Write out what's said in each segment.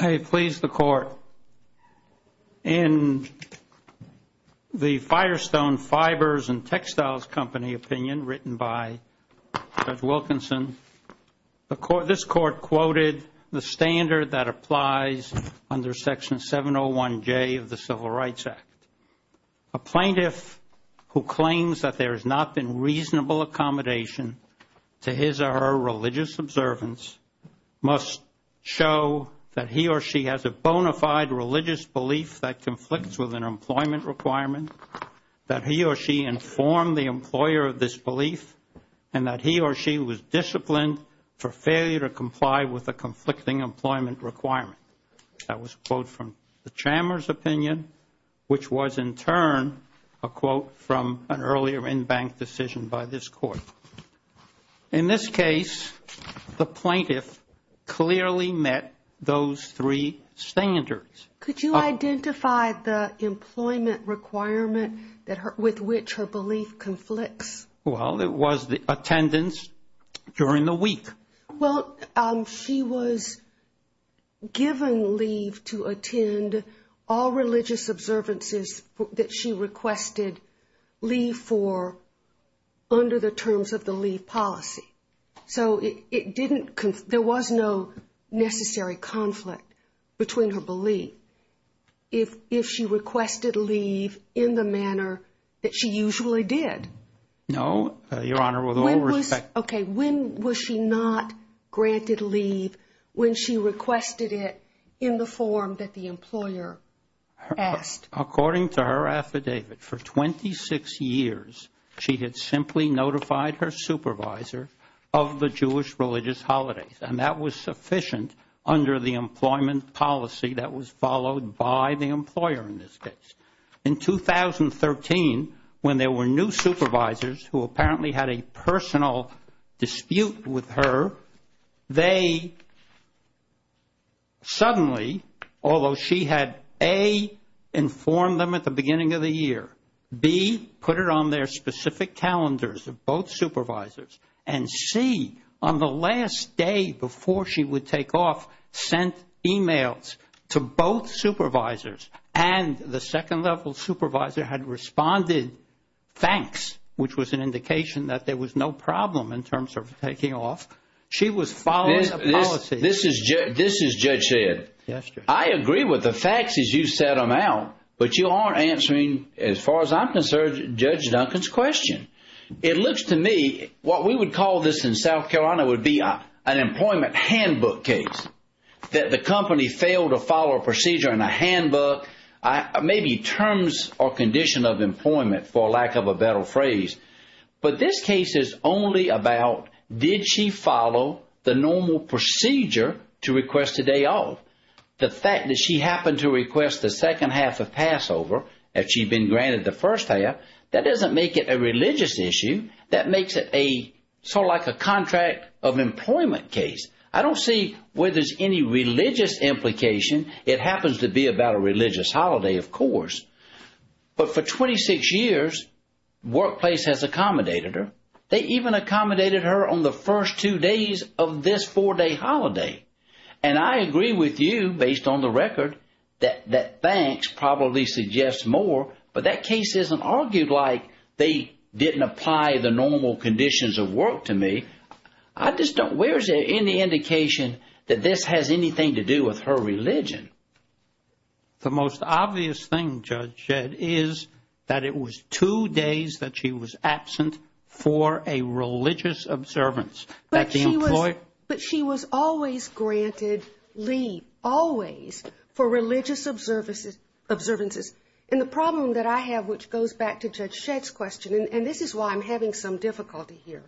Hey, please, the court. In the Firestone Fibers and Textiles Company opinion written by Judge Wilkinson, this court quoted the standard that applies under Section 701J of the Civil Rights Act. A plaintiff who claims that there has not been reasonable accommodation to his or her religious observance must show that he or she has a bona fide religious belief that conflicts with an employment requirement, that he or she informed the employer of this belief, and that he or she was disciplined for failure to comply with a conflicting employment requirement. That was a quote from the Chamber's opinion, which was, in turn, a quote from an earlier in-bank decision by this court. In this case, the plaintiff clearly met those three standards. Could you identify the employment requirement with which her belief conflicts? Well, it was the attendance during the week. Well, she was given leave to attend all religious observances that she requested leave for under the terms of the leave policy. So it didn't, there was no necessary conflict between her belief if she requested leave in the manner that she usually did. No, Your Honor, with all respect. Okay, when was she not granted leave when she requested it in the form that the employer asked? According to her affidavit, for 26 years, she had simply notified her supervisor of the Jewish religious holidays, and that was sufficient under the employment policy that was followed by the dispute with her. They suddenly, although she had, A, informed them at the beginning of the year, B, put it on their specific calendars of both supervisors, and C, on the last day before she would take off, sent emails to both supervisors, and the second-level supervisor had responded, thanks, which was an important problem in terms of taking off. She was following a policy. This is Judge Shedd. I agree with the facts as you set them out, but you aren't answering, as far as I'm concerned, Judge Duncan's question. It looks to me, what we would call this in South Carolina would be an employment handbook case, that the company failed to follow a procedure in a handbook, maybe terms or Did she follow the normal procedure to request a day off? The fact that she happened to request the second half of Passover, if she'd been granted the first half, that doesn't make it a religious issue. That makes it sort of like a contract of employment case. I don't see where there's any religious implication. It happens to accommodate her on the first two days of this four-day holiday. And I agree with you, based on the record, that thanks probably suggests more, but that case isn't argued like they didn't apply the normal conditions of work to me. I just don't, where is there any indication that this has anything to do with her religion? The most obvious thing, Judge Shedd, is that it was two days that she was absent for a religious observance. But she was always granted leave, always, for religious observances. And the problem that I have, which goes back to Judge Shedd's question, and this is why I'm having some difficulty here,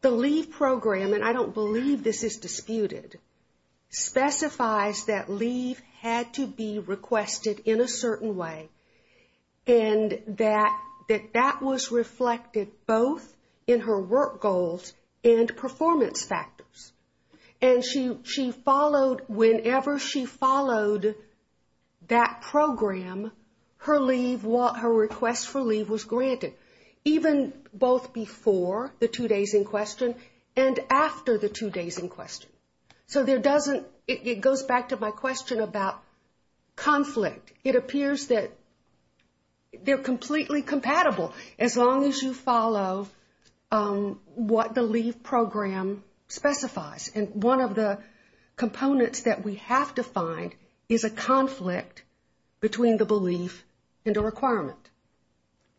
the leave program, and I don't believe this is disputed, specifies that leave had to be requested in a certain way, and that that was reflected both in her work goals and performance factors. And she followed, whenever she followed that program, her leave, was granted, even both before the two days in question and after the two days in question. So there doesn't, it goes back to my question about conflict. It appears that they're completely compatible, as long as you follow what the leave program specifies. And one of the components that we have to find is a conflict between the belief and the requirement.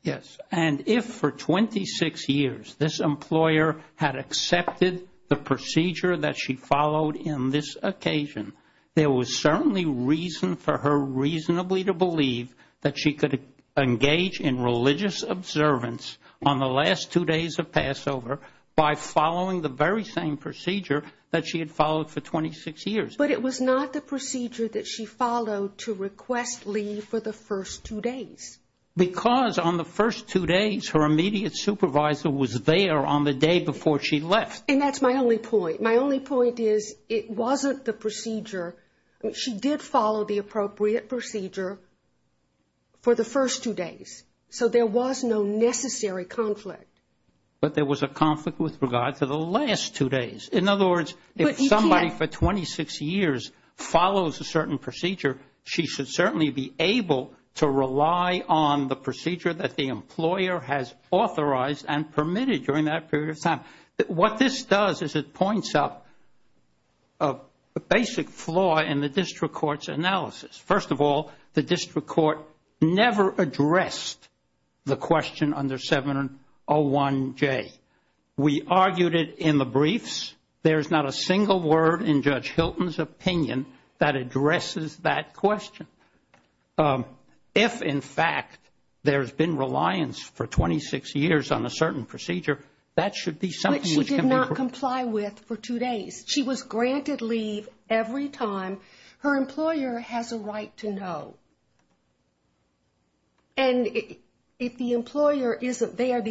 Yes. And if for 26 years this employer had accepted the procedure that she followed in this occasion, there was certainly reason for her reasonably to believe that she could engage in religious observance on the last two days of Passover by following the very same procedure that she had followed for 26 years. But it was not the procedure that she followed to request leave for the first two days. Because on the first two days her immediate supervisor was there on the day before she left. And that's my only point. My only point is it wasn't the procedure, she did follow the appropriate procedure for the first two days. So there was no necessary conflict. But there was a conflict with regard to the last two days. In other words, if somebody for 26 years follows a certain procedure, she should certainly be able to rely on the procedure that the employer has authorized and permitted during that period of time. What this does is it points out a basic flaw in the district court's analysis. First of all, the district court never addressed the question under 701J. We argued it in the briefs. There's not a single word in Judge Hilton's opinion that addresses that question. If, in fact, there's been reliance for 26 years on a certain procedure, that should be something which can be She was granted leave every time. Her employer has a right to know. And if the employer isn't there,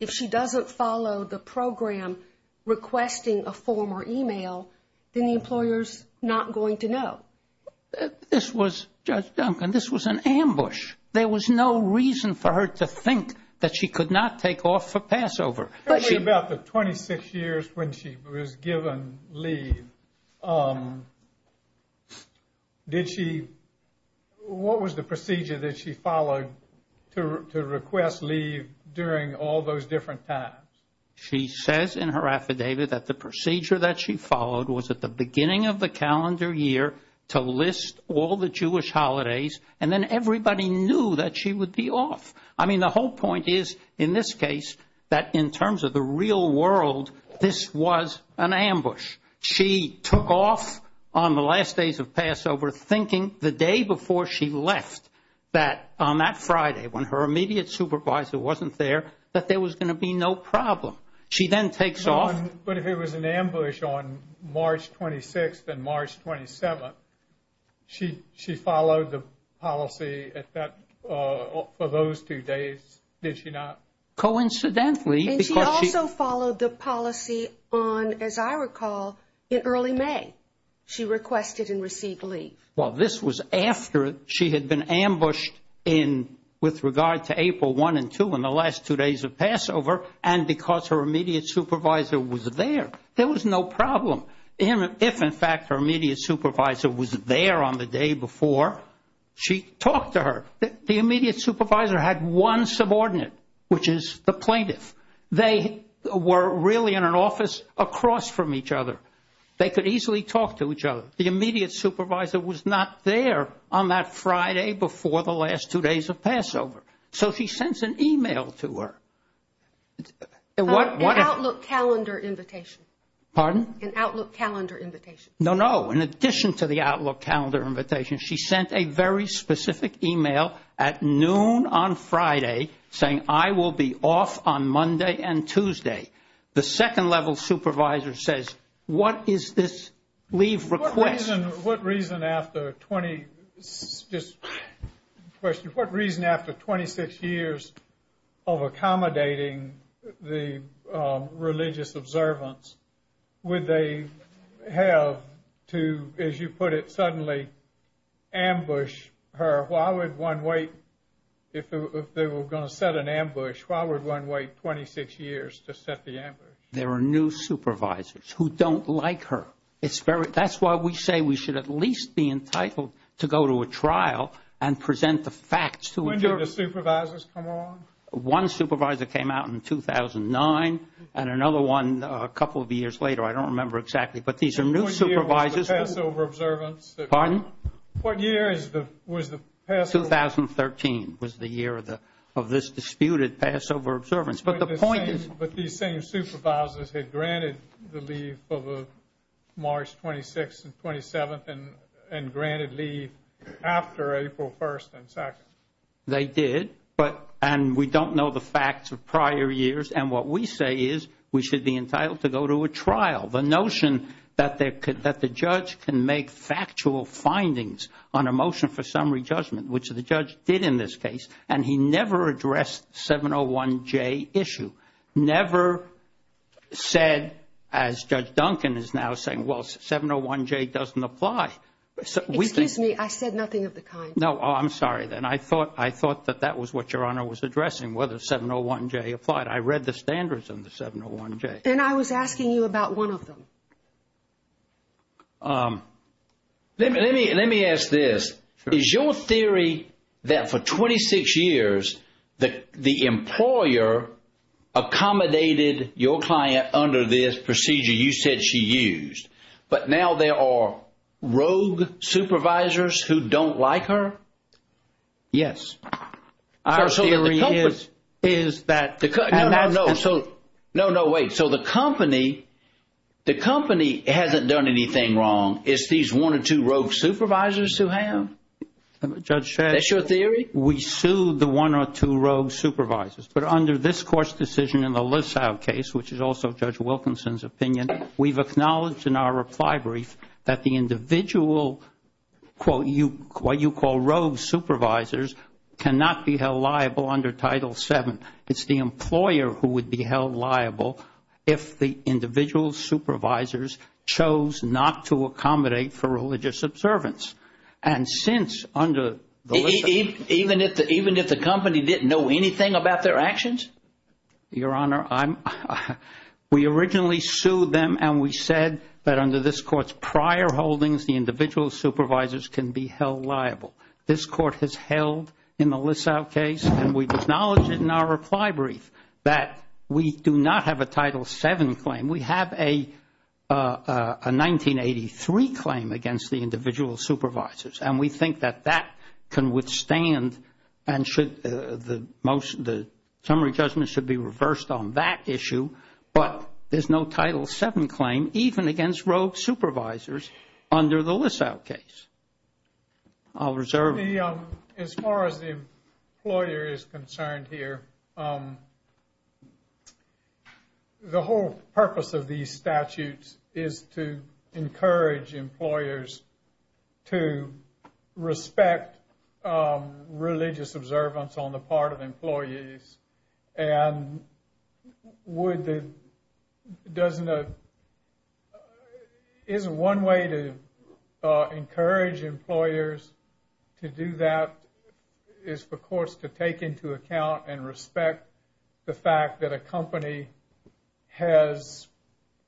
if she doesn't follow the program requesting a form or e-mail, then the employer's not going to know. This was, Judge Duncan, this was an ambush. There was no reason for her to think that she could not take off for Passover. Tell me about the 26 years when she was given leave. Did she, what was the procedure that she followed to request leave during all those different times? She says in her affidavit that the procedure that she followed was at the beginning of the calendar year to list all the Jewish holidays, and then everybody knew that she would be off. I mean, the whole point is, in this case, that in terms of the real world, this was an ambush. She took off on the last days of Passover, thinking the day before she left, that on that Friday, when her immediate supervisor wasn't there, that there was going to be no problem. She then takes off. But if it was an ambush on March 26th and March 27th, she followed the policy for those two days, did she not? Coincidentally. And she also followed the policy on, as I recall, in early May. She requested and received leave. Well, this was after she had been ambushed with regard to April 1 and 2 in the last two days of Passover, and because her immediate supervisor was there, there was no problem. If, in fact, her immediate supervisor was there on the day before, she talked to her. The immediate supervisor had one subordinate, which is the plaintiff. They were really in an office across from each other. They could easily talk to each other. The immediate supervisor was not there on that Friday before the last two days of Passover. So she sends an e-mail to her. An Outlook calendar invitation. Pardon? An Outlook calendar invitation. No, no. In addition to the Outlook calendar invitation, she sent a very specific e-mail at noon on Friday saying, I will be off on Monday and Tuesday. The second-level supervisor says, what is this leave request? What reason after 26 years of accommodating the religious observance would they have to, as you put it, suddenly ambush her? Why would one wait? If they were going to set an ambush, why would one wait 26 years to set the ambush? There are new supervisors who don't like her. That's why we say we should at least be entitled to go to a trial and present the facts. When did the supervisors come along? One supervisor came out in 2009 and another one a couple of years later. I don't remember exactly. But these are new supervisors. What year was the Passover observance? Pardon? What year was the Passover? 2013 was the year of this disputed Passover observance. But these same supervisors had granted the leave of March 26th and 27th and granted leave after April 1st and 2nd. They did. And we don't know the facts of prior years. And what we say is we should be entitled to go to a trial. The notion that the judge can make factual findings on a motion for summary judgment, which the judge did in this case, and he never addressed the 701J issue, never said, as Judge Duncan is now saying, well, 701J doesn't apply. Excuse me. I said nothing of the kind. No, I'm sorry. I thought that that was what Your Honor was addressing, whether 701J applied. I read the standards on the 701J. And I was asking you about one of them. Let me ask this. Is your theory that for 26 years the employer accommodated your client under this procedure you said she used? But now there are rogue supervisors who don't like her? Yes. Our theory is that. No, no, wait. So the company hasn't done anything wrong. It's these one or two rogue supervisors who have? Judge, we sued the one or two rogue supervisors. But under this court's decision in the Lisow case, which is also Judge Wilkinson's opinion, we've acknowledged in our reply brief that the individual, what you call rogue supervisors, cannot be held liable under Title VII. It's the employer who would be held liable if the individual supervisors chose not to accommodate for religious observance. And since under the Lisow case. Even if the company didn't know anything about their actions? Your Honor, we originally sued them and we said that under this court's prior holdings the individual supervisors can be held liable. This court has held in the Lisow case and we've acknowledged it in our reply brief that we do not have a Title VII claim. We have a 1983 claim against the individual supervisors. And we think that that can withstand and the summary judgment should be reversed on that issue. But there's no Title VII claim even against rogue supervisors under the Lisow case. I'll reserve it. As far as the employer is concerned here, the whole purpose of these statutes is to encourage employers to respect religious observance on the part of employees. And is one way to encourage employers to do that is of course to take into account and respect the fact that a company has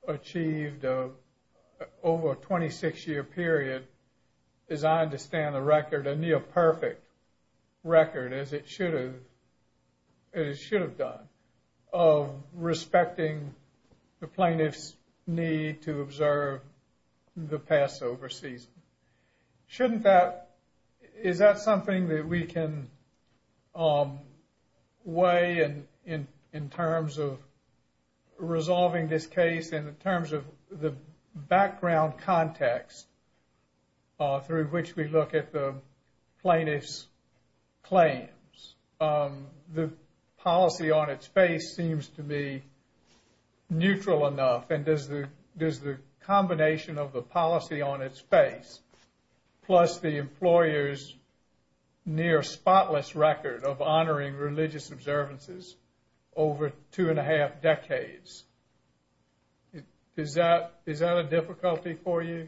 achieved over a 26 year period. As I understand the record, a near perfect record as it should have done of respecting the plaintiff's need to observe the Passover season. Shouldn't that, is that something that we can weigh in terms of resolving this case in terms of the background context through which we look at the plaintiff's claims? The policy on its face seems to me neutral enough. And does the combination of the policy on its face plus the employer's near spotless record of honoring religious observances over two and a half decades, is that a difficulty for you?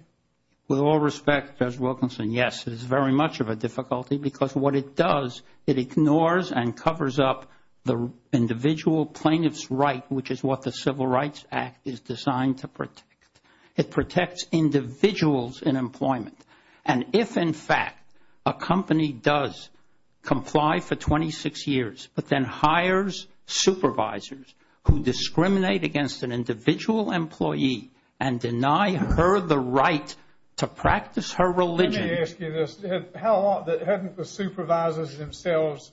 With all respect, Judge Wilkinson, yes, it is very much of a difficulty because what it does, it ignores and covers up the individual plaintiff's right, which is what the Civil Rights Act is designed to protect. It protects individuals in employment. And if, in fact, a company does comply for 26 years, but then hires supervisors who discriminate against an individual employee and deny her the right to practice her religion. Let me ask you this. Hadn't the supervisors themselves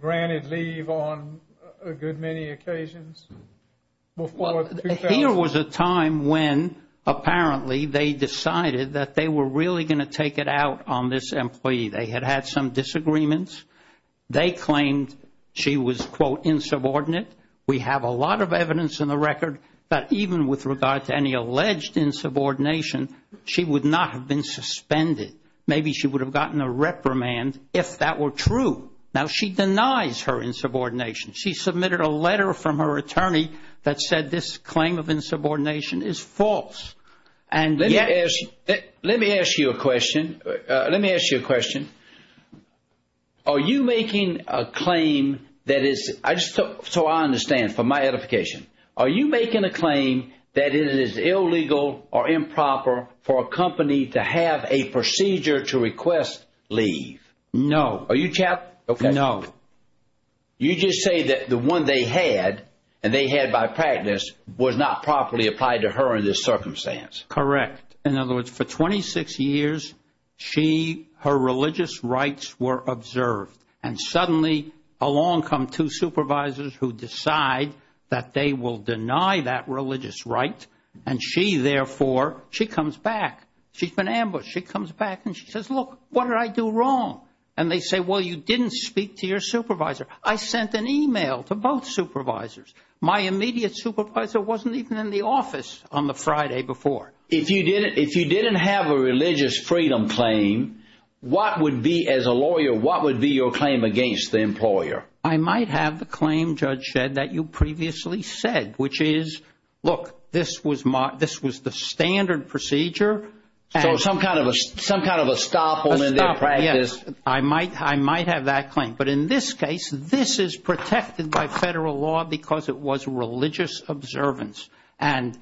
granted leave on a good many occasions before 2000? Here was a time when apparently they decided that they were really going to take it out on this employee. They had had some disagreements. They claimed she was, quote, insubordinate. We have a lot of evidence in the record that even with regard to any alleged insubordination, she would not have been suspended. Maybe she would have gotten a reprimand if that were true. Now, she denies her insubordination. She submitted a letter from her attorney that said this claim of insubordination is false. Let me ask you a question. Let me ask you a question. Are you making a claim that is, so I understand, for my edification, are you making a claim that it is illegal or improper for a company to have a procedure to request leave? No. Are you? No. You just say that the one they had and they had by practice was not properly applied to her in this circumstance. Correct. In other words, for 26 years, she, her religious rights were observed. And suddenly along come two supervisors who decide that they will deny that religious right. And she, therefore, she comes back. She's been ambushed. She comes back and she says, look, what did I do wrong? And they say, well, you didn't speak to your supervisor. I sent an e-mail to both supervisors. My immediate supervisor wasn't even in the office on the Friday before. If you didn't have a religious freedom claim, what would be, as a lawyer, what would be your claim against the employer? I might have the claim, Judge Shedd, that you previously said, which is, look, this was the standard procedure. So some kind of a stop in their practice. I might have that claim. But in this case, this is protected by federal law because it was religious observance. And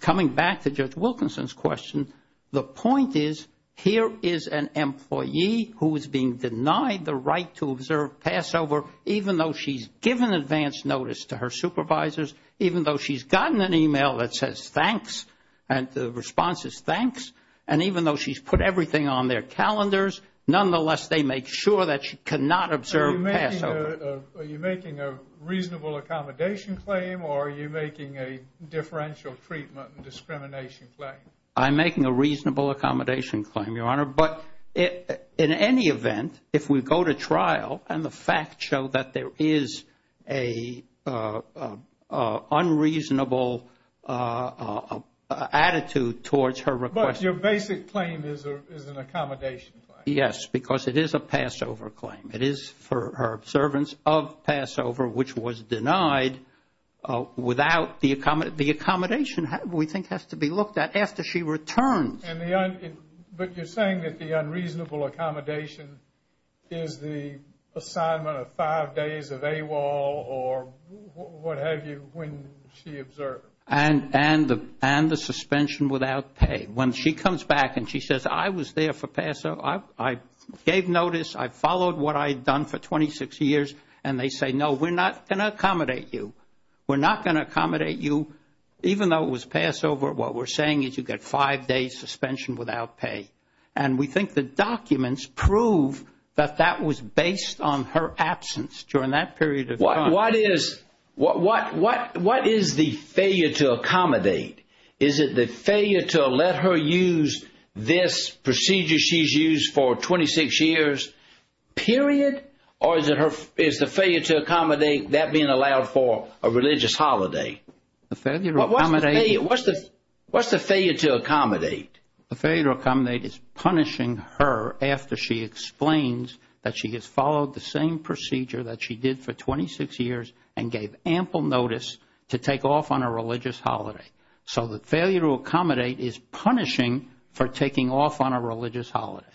coming back to Judge Wilkinson's question, the point is, here is an employee who is being denied the right to observe Passover, even though she's given advance notice to her supervisors, even though she's gotten an e-mail that says thanks and the response is thanks, and even though she's put everything on their calendars, nonetheless, they make sure that she cannot observe Passover. Are you making a reasonable accommodation claim or are you making a differential treatment and discrimination claim? I'm making a reasonable accommodation claim, Your Honor. But in any event, if we go to trial and the facts show that there is an unreasonable attitude towards her request. But your basic claim is an accommodation claim. Yes, because it is a Passover claim. It is for her observance of Passover, which was denied without the accommodation we think has to be looked at after she returns. But you're saying that the unreasonable accommodation is the assignment of five days of AWOL or what have you when she observes. And the suspension without pay. When she comes back and she says, I was there for Passover, I gave notice, I followed what I had done for 26 years, and they say, no, we're not going to accommodate you. We're not going to accommodate you. Even though it was Passover, what we're saying is you get five days suspension without pay. And we think the documents prove that that was based on her absence during that period of time. What is the failure to accommodate? Is it the failure to let her use this procedure she's used for 26 years, period, or is the failure to accommodate that being allowed for a religious holiday? What's the failure to accommodate? The failure to accommodate is punishing her after she explains that she has followed the same procedure that she did for 26 years and gave ample notice to take off on a religious holiday. So the failure to accommodate is punishing for taking off on a religious holiday,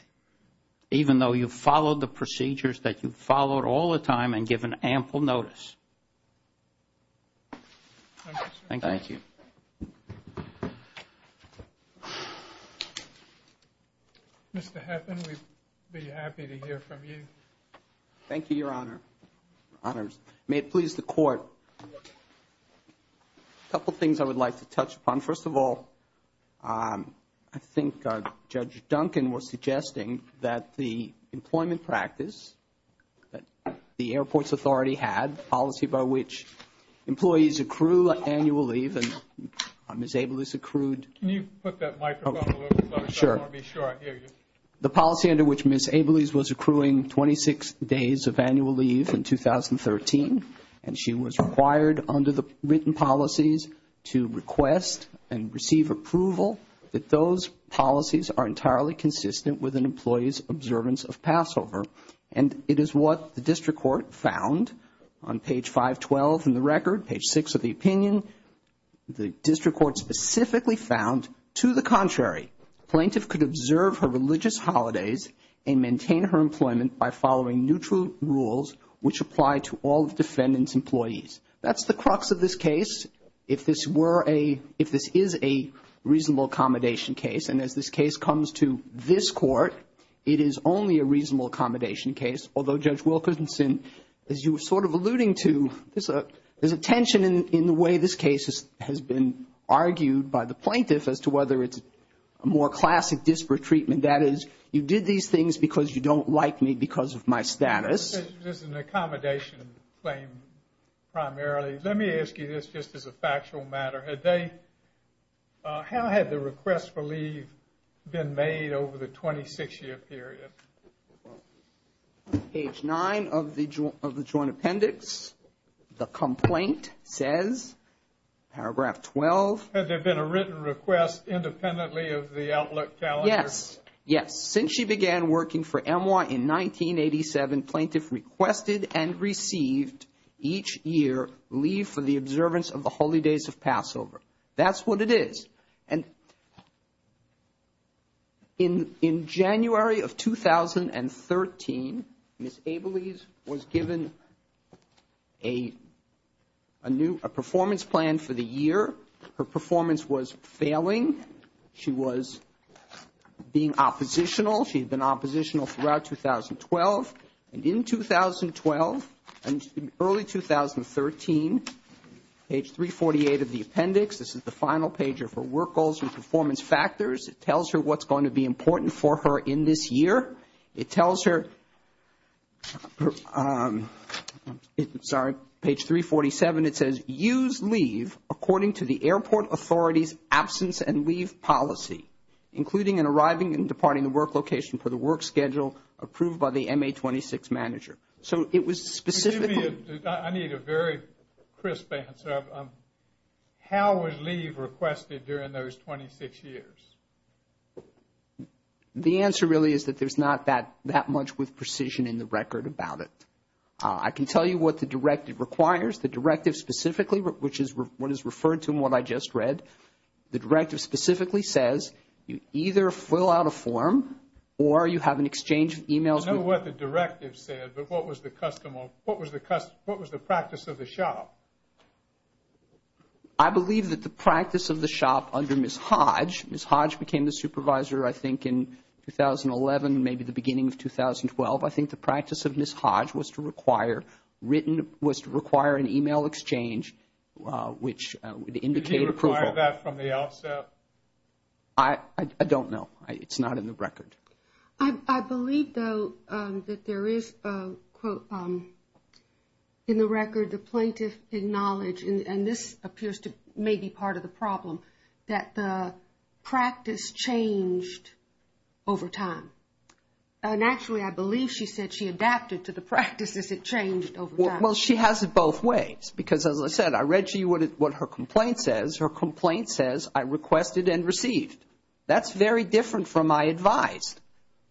even though you followed the procedures that you followed all the time and given ample notice. Thank you. Thank you. Mr. Heffin, we'd be happy to hear from you. Thank you, Your Honor. May it please the Court, a couple things I would like to touch upon. First of all, I think Judge Duncan was suggesting that the employment practice that the Airports Authority had, the policy by which employees accrue annual leave, and Ms. Abeles accrued. Can you put that microphone a little closer? Sure. I want to be sure I hear you. The policy under which Ms. Abeles was accruing 26 days of annual leave in 2013, and she was required under the written policies to request and receive approval, that those policies are entirely consistent with an employee's observance of Passover. And it is what the district court found on page 512 in the record, page 6 of the opinion. The district court specifically found, to the contrary, plaintiff could observe her religious holidays and maintain her employment by following neutral rules which apply to all the defendant's employees. That's the crux of this case. If this were a, if this is a reasonable accommodation case, and as this case comes to this court, it is only a reasonable accommodation case, although Judge Wilkerson, as you were sort of alluding to, there's a tension in the way this case has been argued by the plaintiff as to whether it's a more classic disparate treatment. That is, you did these things because you don't like me because of my status. This is an accommodation claim primarily. Let me ask you this just as a factual matter. Had they, how had the request for leave been made over the 26-year period? Page 9 of the joint appendix. The complaint says, paragraph 12. Had there been a written request independently of the outlook calendar? Yes. Yes. Since she began working for EMWA in 1987, plaintiff requested and received each year leave for the observance of the holy days of Passover. That's what it is. And in January of 2013, Ms. Abeles was given a new, a performance plan for the year. Her performance was failing. She was being oppositional. She had been oppositional throughout 2012. And in 2012 and early 2013, page 348 of the appendix. This is the final page of her work goals and performance factors. It tells her what's going to be important for her in this year. It tells her, sorry, page 347. And it says, use leave according to the airport authority's absence and leave policy, including in arriving and departing the work location for the work schedule approved by the MA-26 manager. So it was specifically. Excuse me. I need a very crisp answer. How was leave requested during those 26 years? The answer really is that there's not that much with precision in the record about it. I can tell you what the directive requires. The directive specifically, which is what is referred to in what I just read, the directive specifically says you either fill out a form or you have an exchange of e-mails. I know what the directive said, but what was the practice of the shop? I believe that the practice of the shop under Ms. Hodge. Ms. Hodge became the supervisor, I think, in 2011, maybe the beginning of 2012. I think the practice of Ms. Hodge was to require written, was to require an e-mail exchange, which would indicate approval. Did he require that from the offset? I don't know. It's not in the record. I believe, though, that there is, quote, in the record, the plaintiff acknowledged, and this appears to maybe be part of the problem, that the practice changed over time. And actually, I believe she said she adapted to the practice as it changed over time. Well, she has it both ways because, as I said, I read to you what her complaint says. Her complaint says, I requested and received. That's very different from I advised.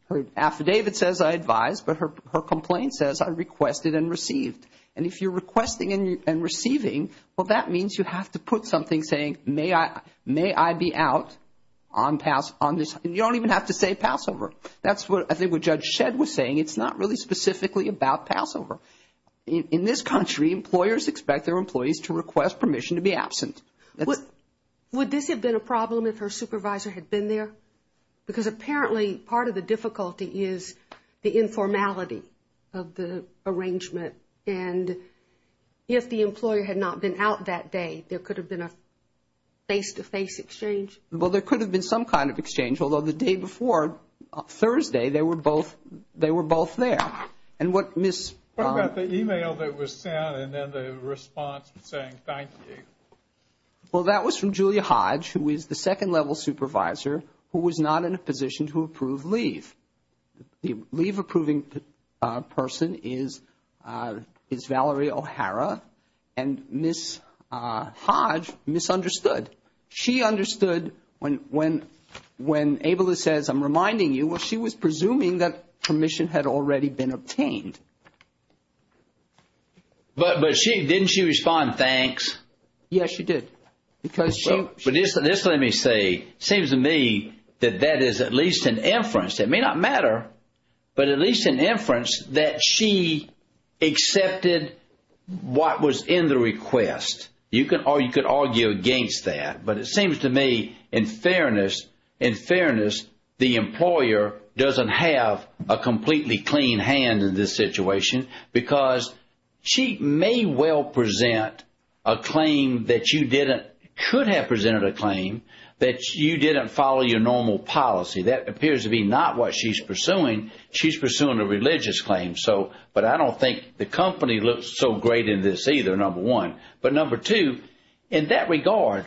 Her affidavit says I advised, but her complaint says I requested and received. And if you're requesting and receiving, well, that means you have to put something saying, may I be out on this. You don't even have to say Passover. That's what I think what Judge Shedd was saying. It's not really specifically about Passover. In this country, employers expect their employees to request permission to be absent. Would this have been a problem if her supervisor had been there? Because apparently part of the difficulty is the informality of the arrangement. And if the employer had not been out that day, there could have been a face-to-face exchange. Well, there could have been some kind of exchange, although the day before, Thursday, they were both there. What about the e-mail that was sent and then the response saying thank you? Well, that was from Julia Hodge, who is the second-level supervisor, who was not in a position to approve leave. The leave-approving person is Valerie O'Hara, and Ms. Hodge misunderstood. She understood when Abeles says, I'm reminding you, well, she was presuming that permission had already been obtained. But didn't she respond thanks? Yes, she did. Because she – But just let me say, it seems to me that that is at least an inference. It may not matter, but at least an inference that she accepted what was in the request. Or you could argue against that. But it seems to me, in fairness, the employer doesn't have a completely clean hand in this situation. Because she may well present a claim that you didn't – could have presented a claim that you didn't follow your normal policy. That appears to be not what she's pursuing. She's pursuing a religious claim. But I don't think the company looks so great in this either, number one. But number two, in that regard,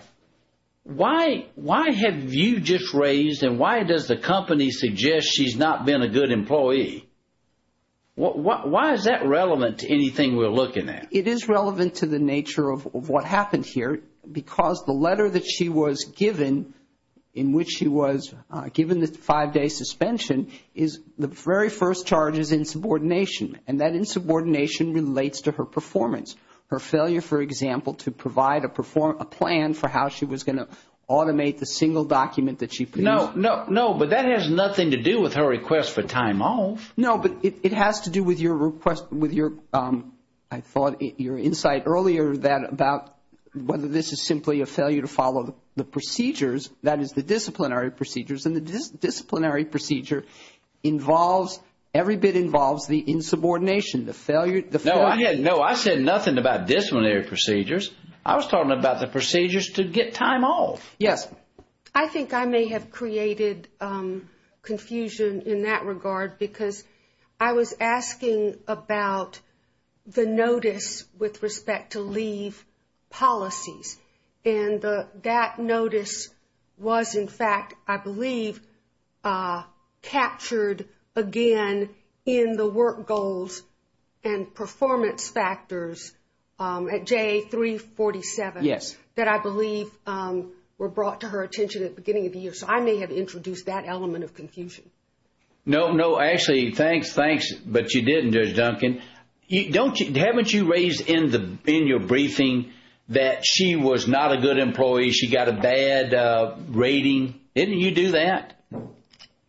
why have you just raised and why does the company suggest she's not been a good employee? Why is that relevant to anything we're looking at? It is relevant to the nature of what happened here. Because the letter that she was given, in which she was given the five-day suspension, is the very first charge is insubordination. And that insubordination relates to her performance. Her failure, for example, to provide a plan for how she was going to automate the single document that she produced. No, but that has nothing to do with her request for time off. No, but it has to do with your – I thought your insight earlier that about whether this is simply a failure to follow the procedures, that is, the disciplinary procedures. And the disciplinary procedure involves – every bit involves the insubordination, the failure – No, I said nothing about disciplinary procedures. I was talking about the procedures to get time off. Yes. I think I may have created confusion in that regard because I was asking about the notice with respect to leave policies. And that notice was, in fact, I believe, captured again in the work goals and performance factors at J347. Yes. That I believe were brought to her attention at the beginning of the year. So I may have introduced that element of confusion. No, no. Ashley, thanks, thanks. But you didn't, Judge Duncan. Haven't you raised in your briefing that she was not a good employee, she got a bad rating? Didn't you do that?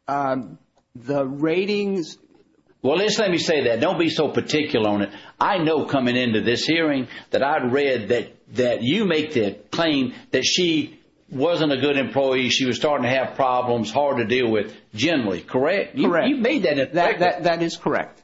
The ratings – Well, just let me say that. Don't be so particular on it. I know coming into this hearing that I'd read that you make the claim that she wasn't a good employee, she was starting to have problems, hard to deal with generally, correct? Correct. You made that – That is correct.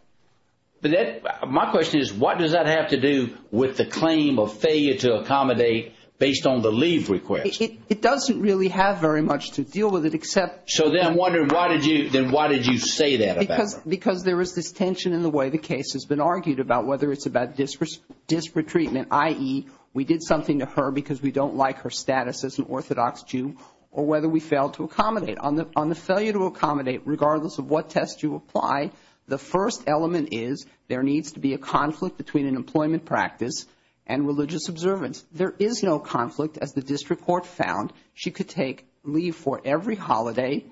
But that – my question is, what does that have to do with the claim of failure to accommodate based on the leave request? It doesn't really have very much to deal with it except – So then I'm wondering why did you – then why did you say that about her? Because there was this tension in the way the case has been argued about whether it's about disretreatment, i.e., we did something to her because we don't like her status as an Orthodox Jew, or whether we failed to accommodate. On the failure to accommodate, regardless of what test you apply, the first element is there needs to be a conflict between an employment practice and religious observance. There is no conflict, as the district court found. She could take leave for every holiday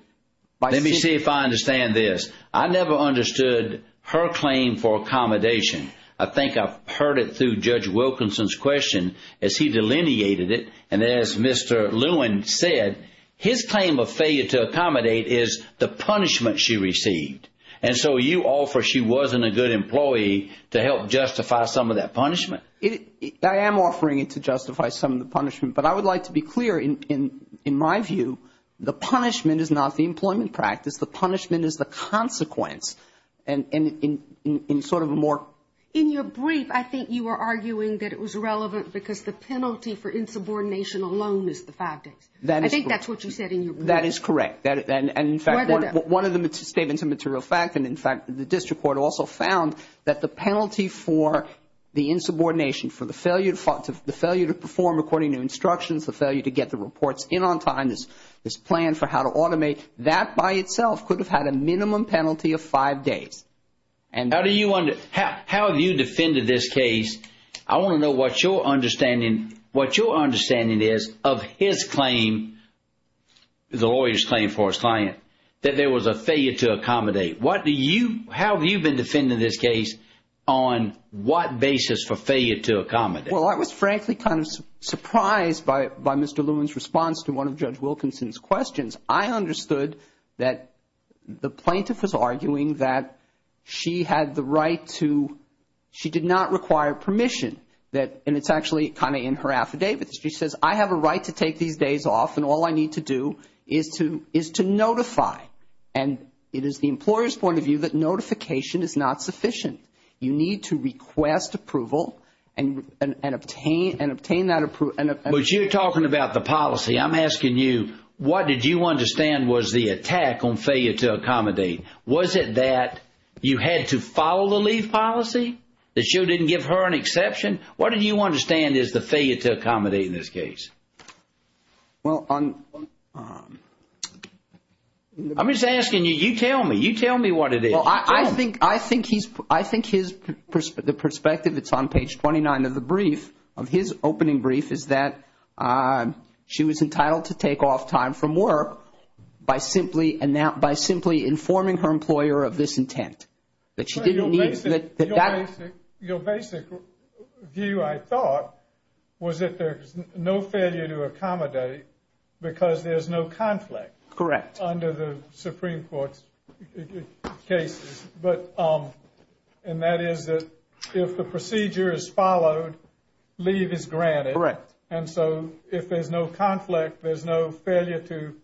by – Let me see if I understand this. I never understood her claim for accommodation. I think I've heard it through Judge Wilkinson's question as he delineated it. And as Mr. Lewin said, his claim of failure to accommodate is the punishment she received. And so you offer she wasn't a good employee to help justify some of that punishment. I am offering it to justify some of the punishment. But I would like to be clear, in my view, the punishment is not the employment practice. The punishment is the consequence. And in sort of a more – In your brief, I think you were arguing that it was relevant because the penalty for insubordination alone is the five days. I think that's what you said in your brief. That is correct. And in fact, one of the statements in material fact, and in fact the district court also found, that the penalty for the insubordination, for the failure to perform according to instructions, the failure to get the reports in on time, this plan for how to automate, that by itself could have had a minimum penalty of five days. How have you defended this case? I want to know what your understanding is of his claim, the lawyer's claim for his client, that there was a failure to accommodate. How have you been defending this case on what basis for failure to accommodate? Well, I was frankly kind of surprised by Mr. Lewin's response to one of Judge Wilkinson's questions. I understood that the plaintiff was arguing that she had the right to – she did not require permission. And it's actually kind of in her affidavit. She says, I have a right to take these days off and all I need to do is to notify. And it is the employer's point of view that notification is not sufficient. You need to request approval and obtain that approval. But you're talking about the policy. I'm asking you, what did you understand was the attack on failure to accommodate? Was it that you had to follow the leave policy? That you didn't give her an exception? What do you understand is the failure to accommodate in this case? Well, on – I'm just asking you, you tell me. You tell me what it is. Well, I think he's – I think his – the perspective, it's on page 29 of the brief, of his opening brief, is that she was entitled to take off time from work by simply informing her employer of this intent. That she didn't need it. Your basic view, I thought, was that there's no failure to accommodate because there's no conflict. Correct. Under the Supreme Court's cases. But – and that is that if the procedure is followed, leave is granted. Correct. And so if there's no conflict, there's no failure to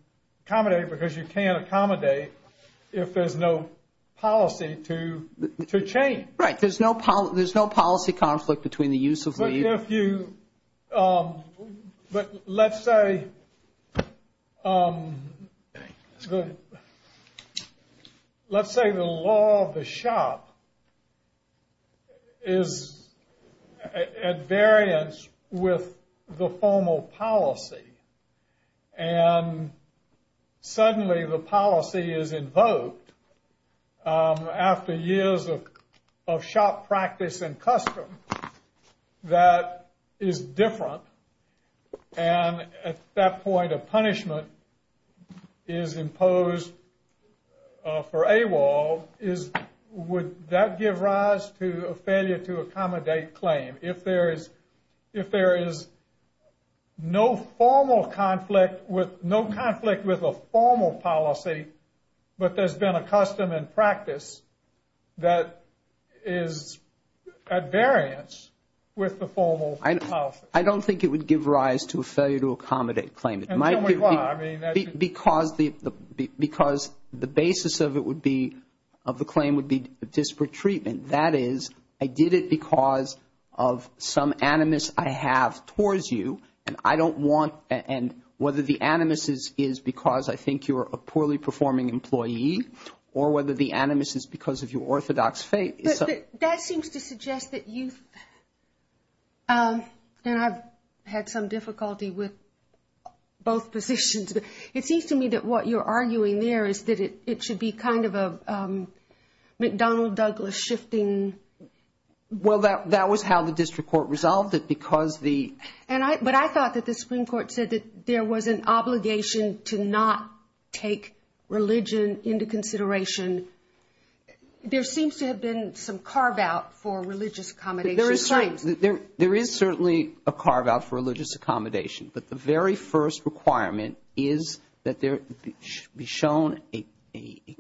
accommodate because you can't accommodate if there's no policy to change. Right. There's no policy conflict between the use of leave. If you – but let's say – let's say the law of the shop is at variance with the formal policy. And suddenly the policy is invoked after years of shop practice and custom that is different. And at that point a punishment is imposed for AWOL. Would that give rise to a failure to accommodate claim? If there is – if there is no formal conflict with – no conflict with a formal policy, but there's been a custom and practice that is at variance with the formal policy. I don't think it would give rise to a failure to accommodate claim. And tell me why. Because the basis of it would be – of the claim would be disparate treatment. That is, I did it because of some animus I have towards you. And I don't want – and whether the animus is because I think you're a poorly performing employee or whether the animus is because of your orthodox faith. That seems to suggest that you've – and I've had some difficulty with both positions. It seems to me that what you're arguing there is that it should be kind of a McDonnell-Douglas shifting. Well, that was how the district court resolved it because the – But I thought that the Supreme Court said that there was an obligation to not take religion into consideration. There seems to have been some carve-out for religious accommodation claims. There is certainly a carve-out for religious accommodation. But the very first requirement is that there be shown a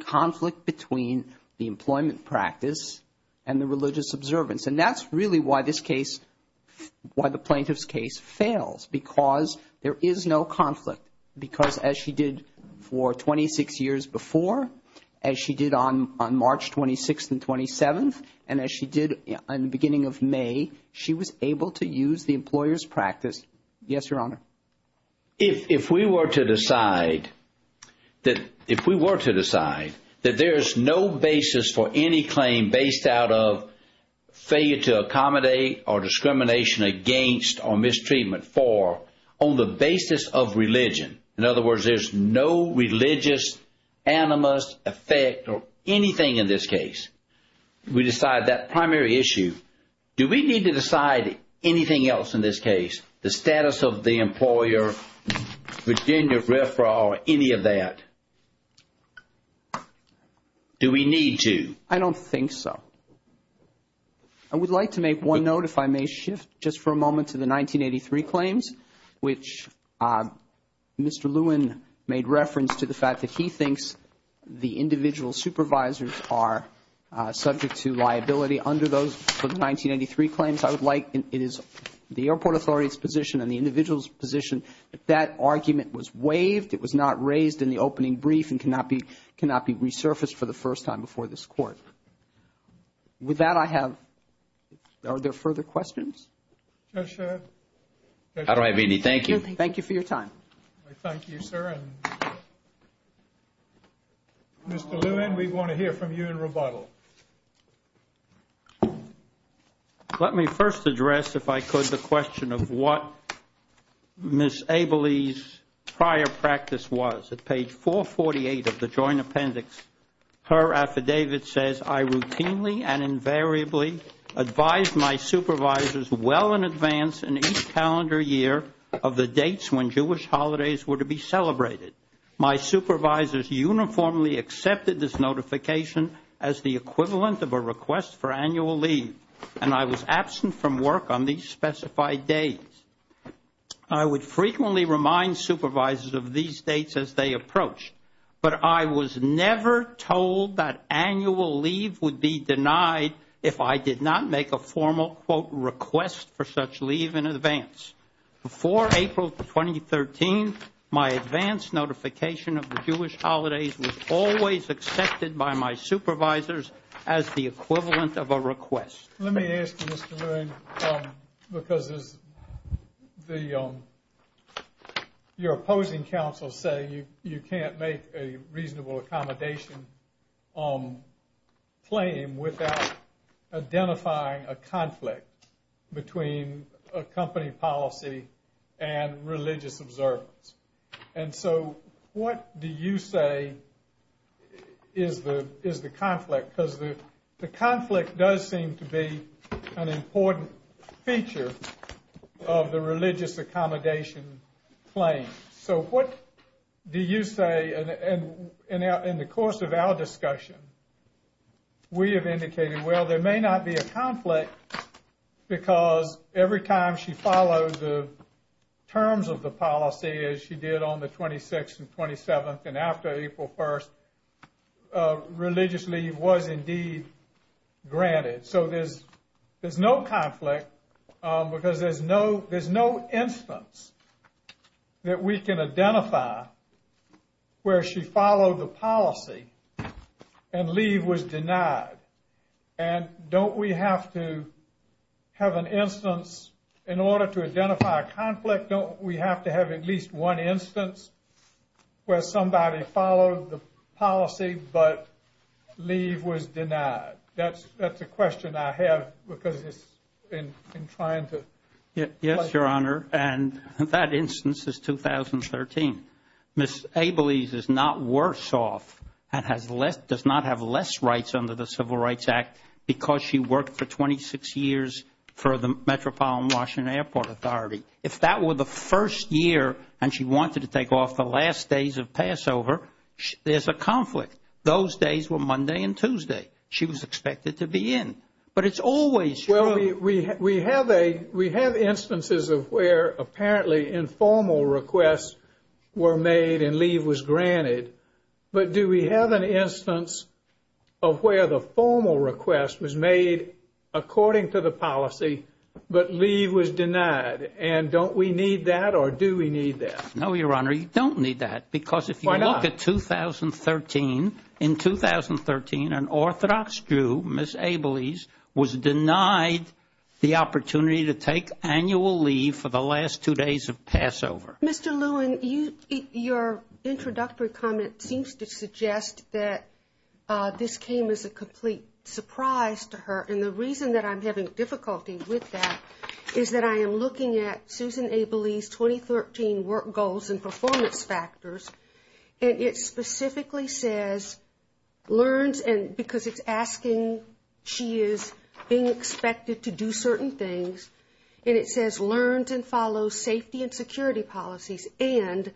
conflict between the employment practice and the religious observance. And that's really why this case – why the plaintiff's case fails because there is no conflict. Because as she did for 26 years before, as she did on March 26th and 27th, and as she did on the beginning of May, she was able to use the employer's practice. Yes, Your Honor. If we were to decide that – if we were to decide that there is no basis for any claim based out of failure to accommodate or discrimination against or mistreatment for on the basis of religion, in other words, there's no religious animus effect or anything in this case, we decide that primary issue, do we need to decide anything else in this case, the status of the employer, Virginia referral, any of that? Do we need to? I don't think so. I would like to make one note if I may shift just for a moment to the 1983 claims, which Mr. Lewin made reference to the fact that he thinks the individual supervisors are subject to liability. Under those 1983 claims, I would like – it is the airport authority's position and the individual's position that that argument was waived, it was not raised in the opening brief, and cannot be resurfaced for the first time before this Court. With that, I have – are there further questions? I don't have any. Thank you. Thank you for your time. Thank you, sir. Mr. Lewin, we want to hear from you in rebuttal. Let me first address, if I could, the question of what Ms. Abelley's prior practice was. At page 448 of the joint appendix, her affidavit says, I routinely and invariably advised my supervisors well in advance in each calendar year of the dates when Jewish holidays were to be celebrated. My supervisors uniformly accepted this notification as the equivalent of a request for annual leave, and I was absent from work on these specified days. I would frequently remind supervisors of these dates as they approached, but I was never told that annual leave would be denied if I did not make a formal, quote, request for such leave in advance. Before April 2013, my advance notification of the Jewish holidays was always accepted by my supervisors as the equivalent of a request. Let me ask you, Mr. Lewin, because your opposing counsels say you can't make a reasonable accommodation claim without identifying a conflict between a company policy and religious observance. And so what do you say is the conflict? Because the conflict does seem to be an important feature of the religious accommodation claim. So what do you say, and in the course of our discussion, we have indicated, well, there may not be a conflict because every time she follows the terms of the policy as she did on the 26th and 27th and after April 1st, religious leave was indeed granted. So there's no conflict because there's no instance that we can identify where she followed the policy and leave was denied. And don't we have to have an instance in order to identify a conflict? Don't we have to have at least one instance where somebody followed the policy but leave was denied? That's a question I have because it's in trying to... Yes, Your Honor, and that instance is 2013. Ms. Abeles is not worse off and does not have less rights under the Civil Rights Act because she worked for 26 years for the Metropolitan Washington Airport Authority. If that were the first year and she wanted to take off the last days of Passover, there's a conflict. Those days were Monday and Tuesday. She was expected to be in. But it's always... We have instances of where apparently informal requests were made and leave was granted, but do we have an instance of where the formal request was made according to the policy but leave was denied, and don't we need that or do we need that? No, Your Honor, you don't need that because if you look at 2013, in 2013 an Orthodox Jew, Ms. Abeles, was denied the opportunity to take annual leave for the last two days of Passover. Mr. Lewin, your introductory comment seems to suggest that this came as a complete surprise to her, and the reason that I'm having difficulty with that is that I am looking at Susan Abeles' 2013 work goals and performance factors, and it specifically says learns, and because it's asking she is being expected to do certain things, and it says learns and follows safety and security policies and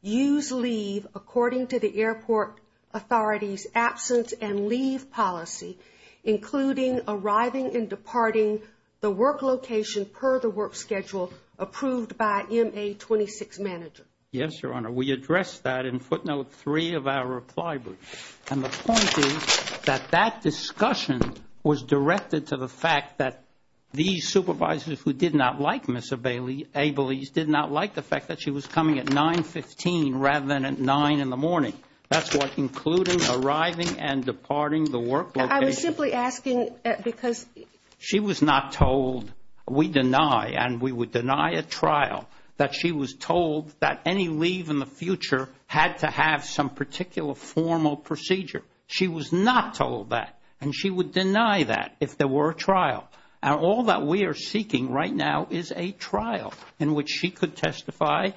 use leave according to the airport authority's absence and leave policy, including arriving and departing the work location per the work schedule approved by MA-26 manager. Yes, Your Honor. We addressed that in footnote 3 of our reply book, and the point is that that discussion was directed to the fact that these supervisors who did not like Ms. Abeles did not like the fact that she was coming at 9.15 rather than at 9 in the morning. That's what including arriving and departing the work location. I was simply asking because... She was not told, we deny, and we would deny a trial, that she was told that any leave in the future had to have some particular formal procedure. She was not told that, and she would deny that if there were a trial. Now, all that we are seeking right now is a trial in which she could testify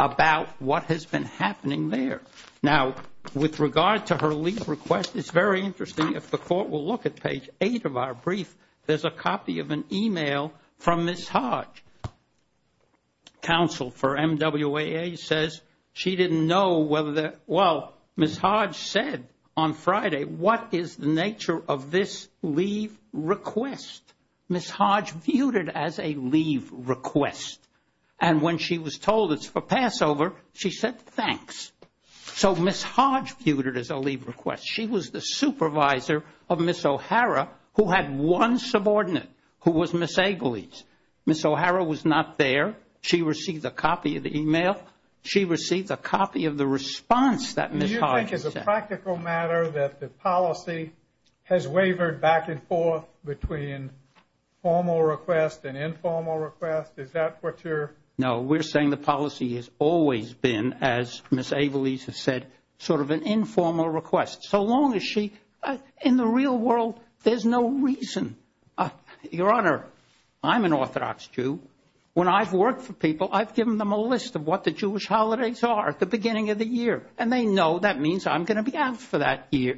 about what has been happening there. Now, with regard to her leave request, it's very interesting. If the court will look at page 8 of our brief, there's a copy of an e-mail from Ms. Hodge. Counsel for MWAA says she didn't know whether the... Well, Ms. Hodge said on Friday, what is the nature of this leave request? Ms. Hodge viewed it as a leave request, and when she was told it's for Passover, she said thanks. So Ms. Hodge viewed it as a leave request. She was the supervisor of Ms. O'Hara who had one subordinate who was Ms. Abeles. Ms. O'Hara was not there. She received a copy of the e-mail. She received a copy of the response that Ms. Hodge sent. Do you think it's a practical matter that the policy has wavered back and forth between formal request and informal request? Is that what you're... No, we're saying the policy has always been, as Ms. Abeles has said, sort of an informal request. So long as she... In the real world, there's no reason. Your Honor, I'm an Orthodox Jew. When I've worked for people, I've given them a list of what the Jewish holidays are at the beginning of the year, and they know that means I'm going to be out for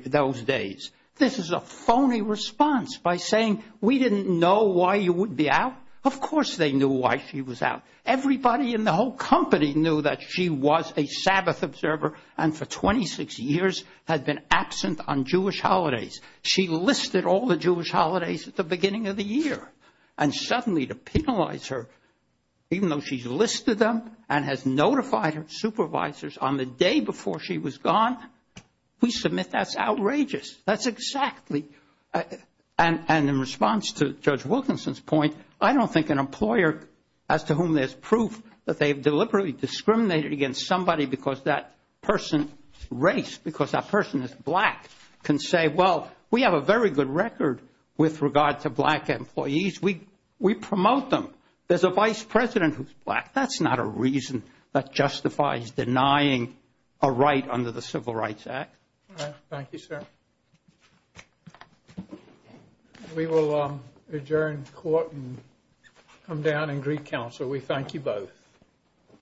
those days. This is a phony response by saying we didn't know why you would be out. Of course they knew why she was out. Everybody in the whole company knew that she was a Sabbath observer and for 26 years had been absent on Jewish holidays. She listed all the Jewish holidays at the beginning of the year, and suddenly to penalize her, even though she's listed them and has notified her supervisors on the day before she was gone, we submit that's outrageous. That's exactly... And in response to Judge Wilkinson's point, I don't think an employer as to whom there's proof that they've deliberately discriminated against somebody because that person's race, because that person is black, can say, well, we have a very good record with regard to black employees. We promote them. There's a vice president who's black. That's not a reason that justifies denying a right under the Civil Rights Act. Thank you, sir. We will adjourn court and come down and greet counsel. We thank you both.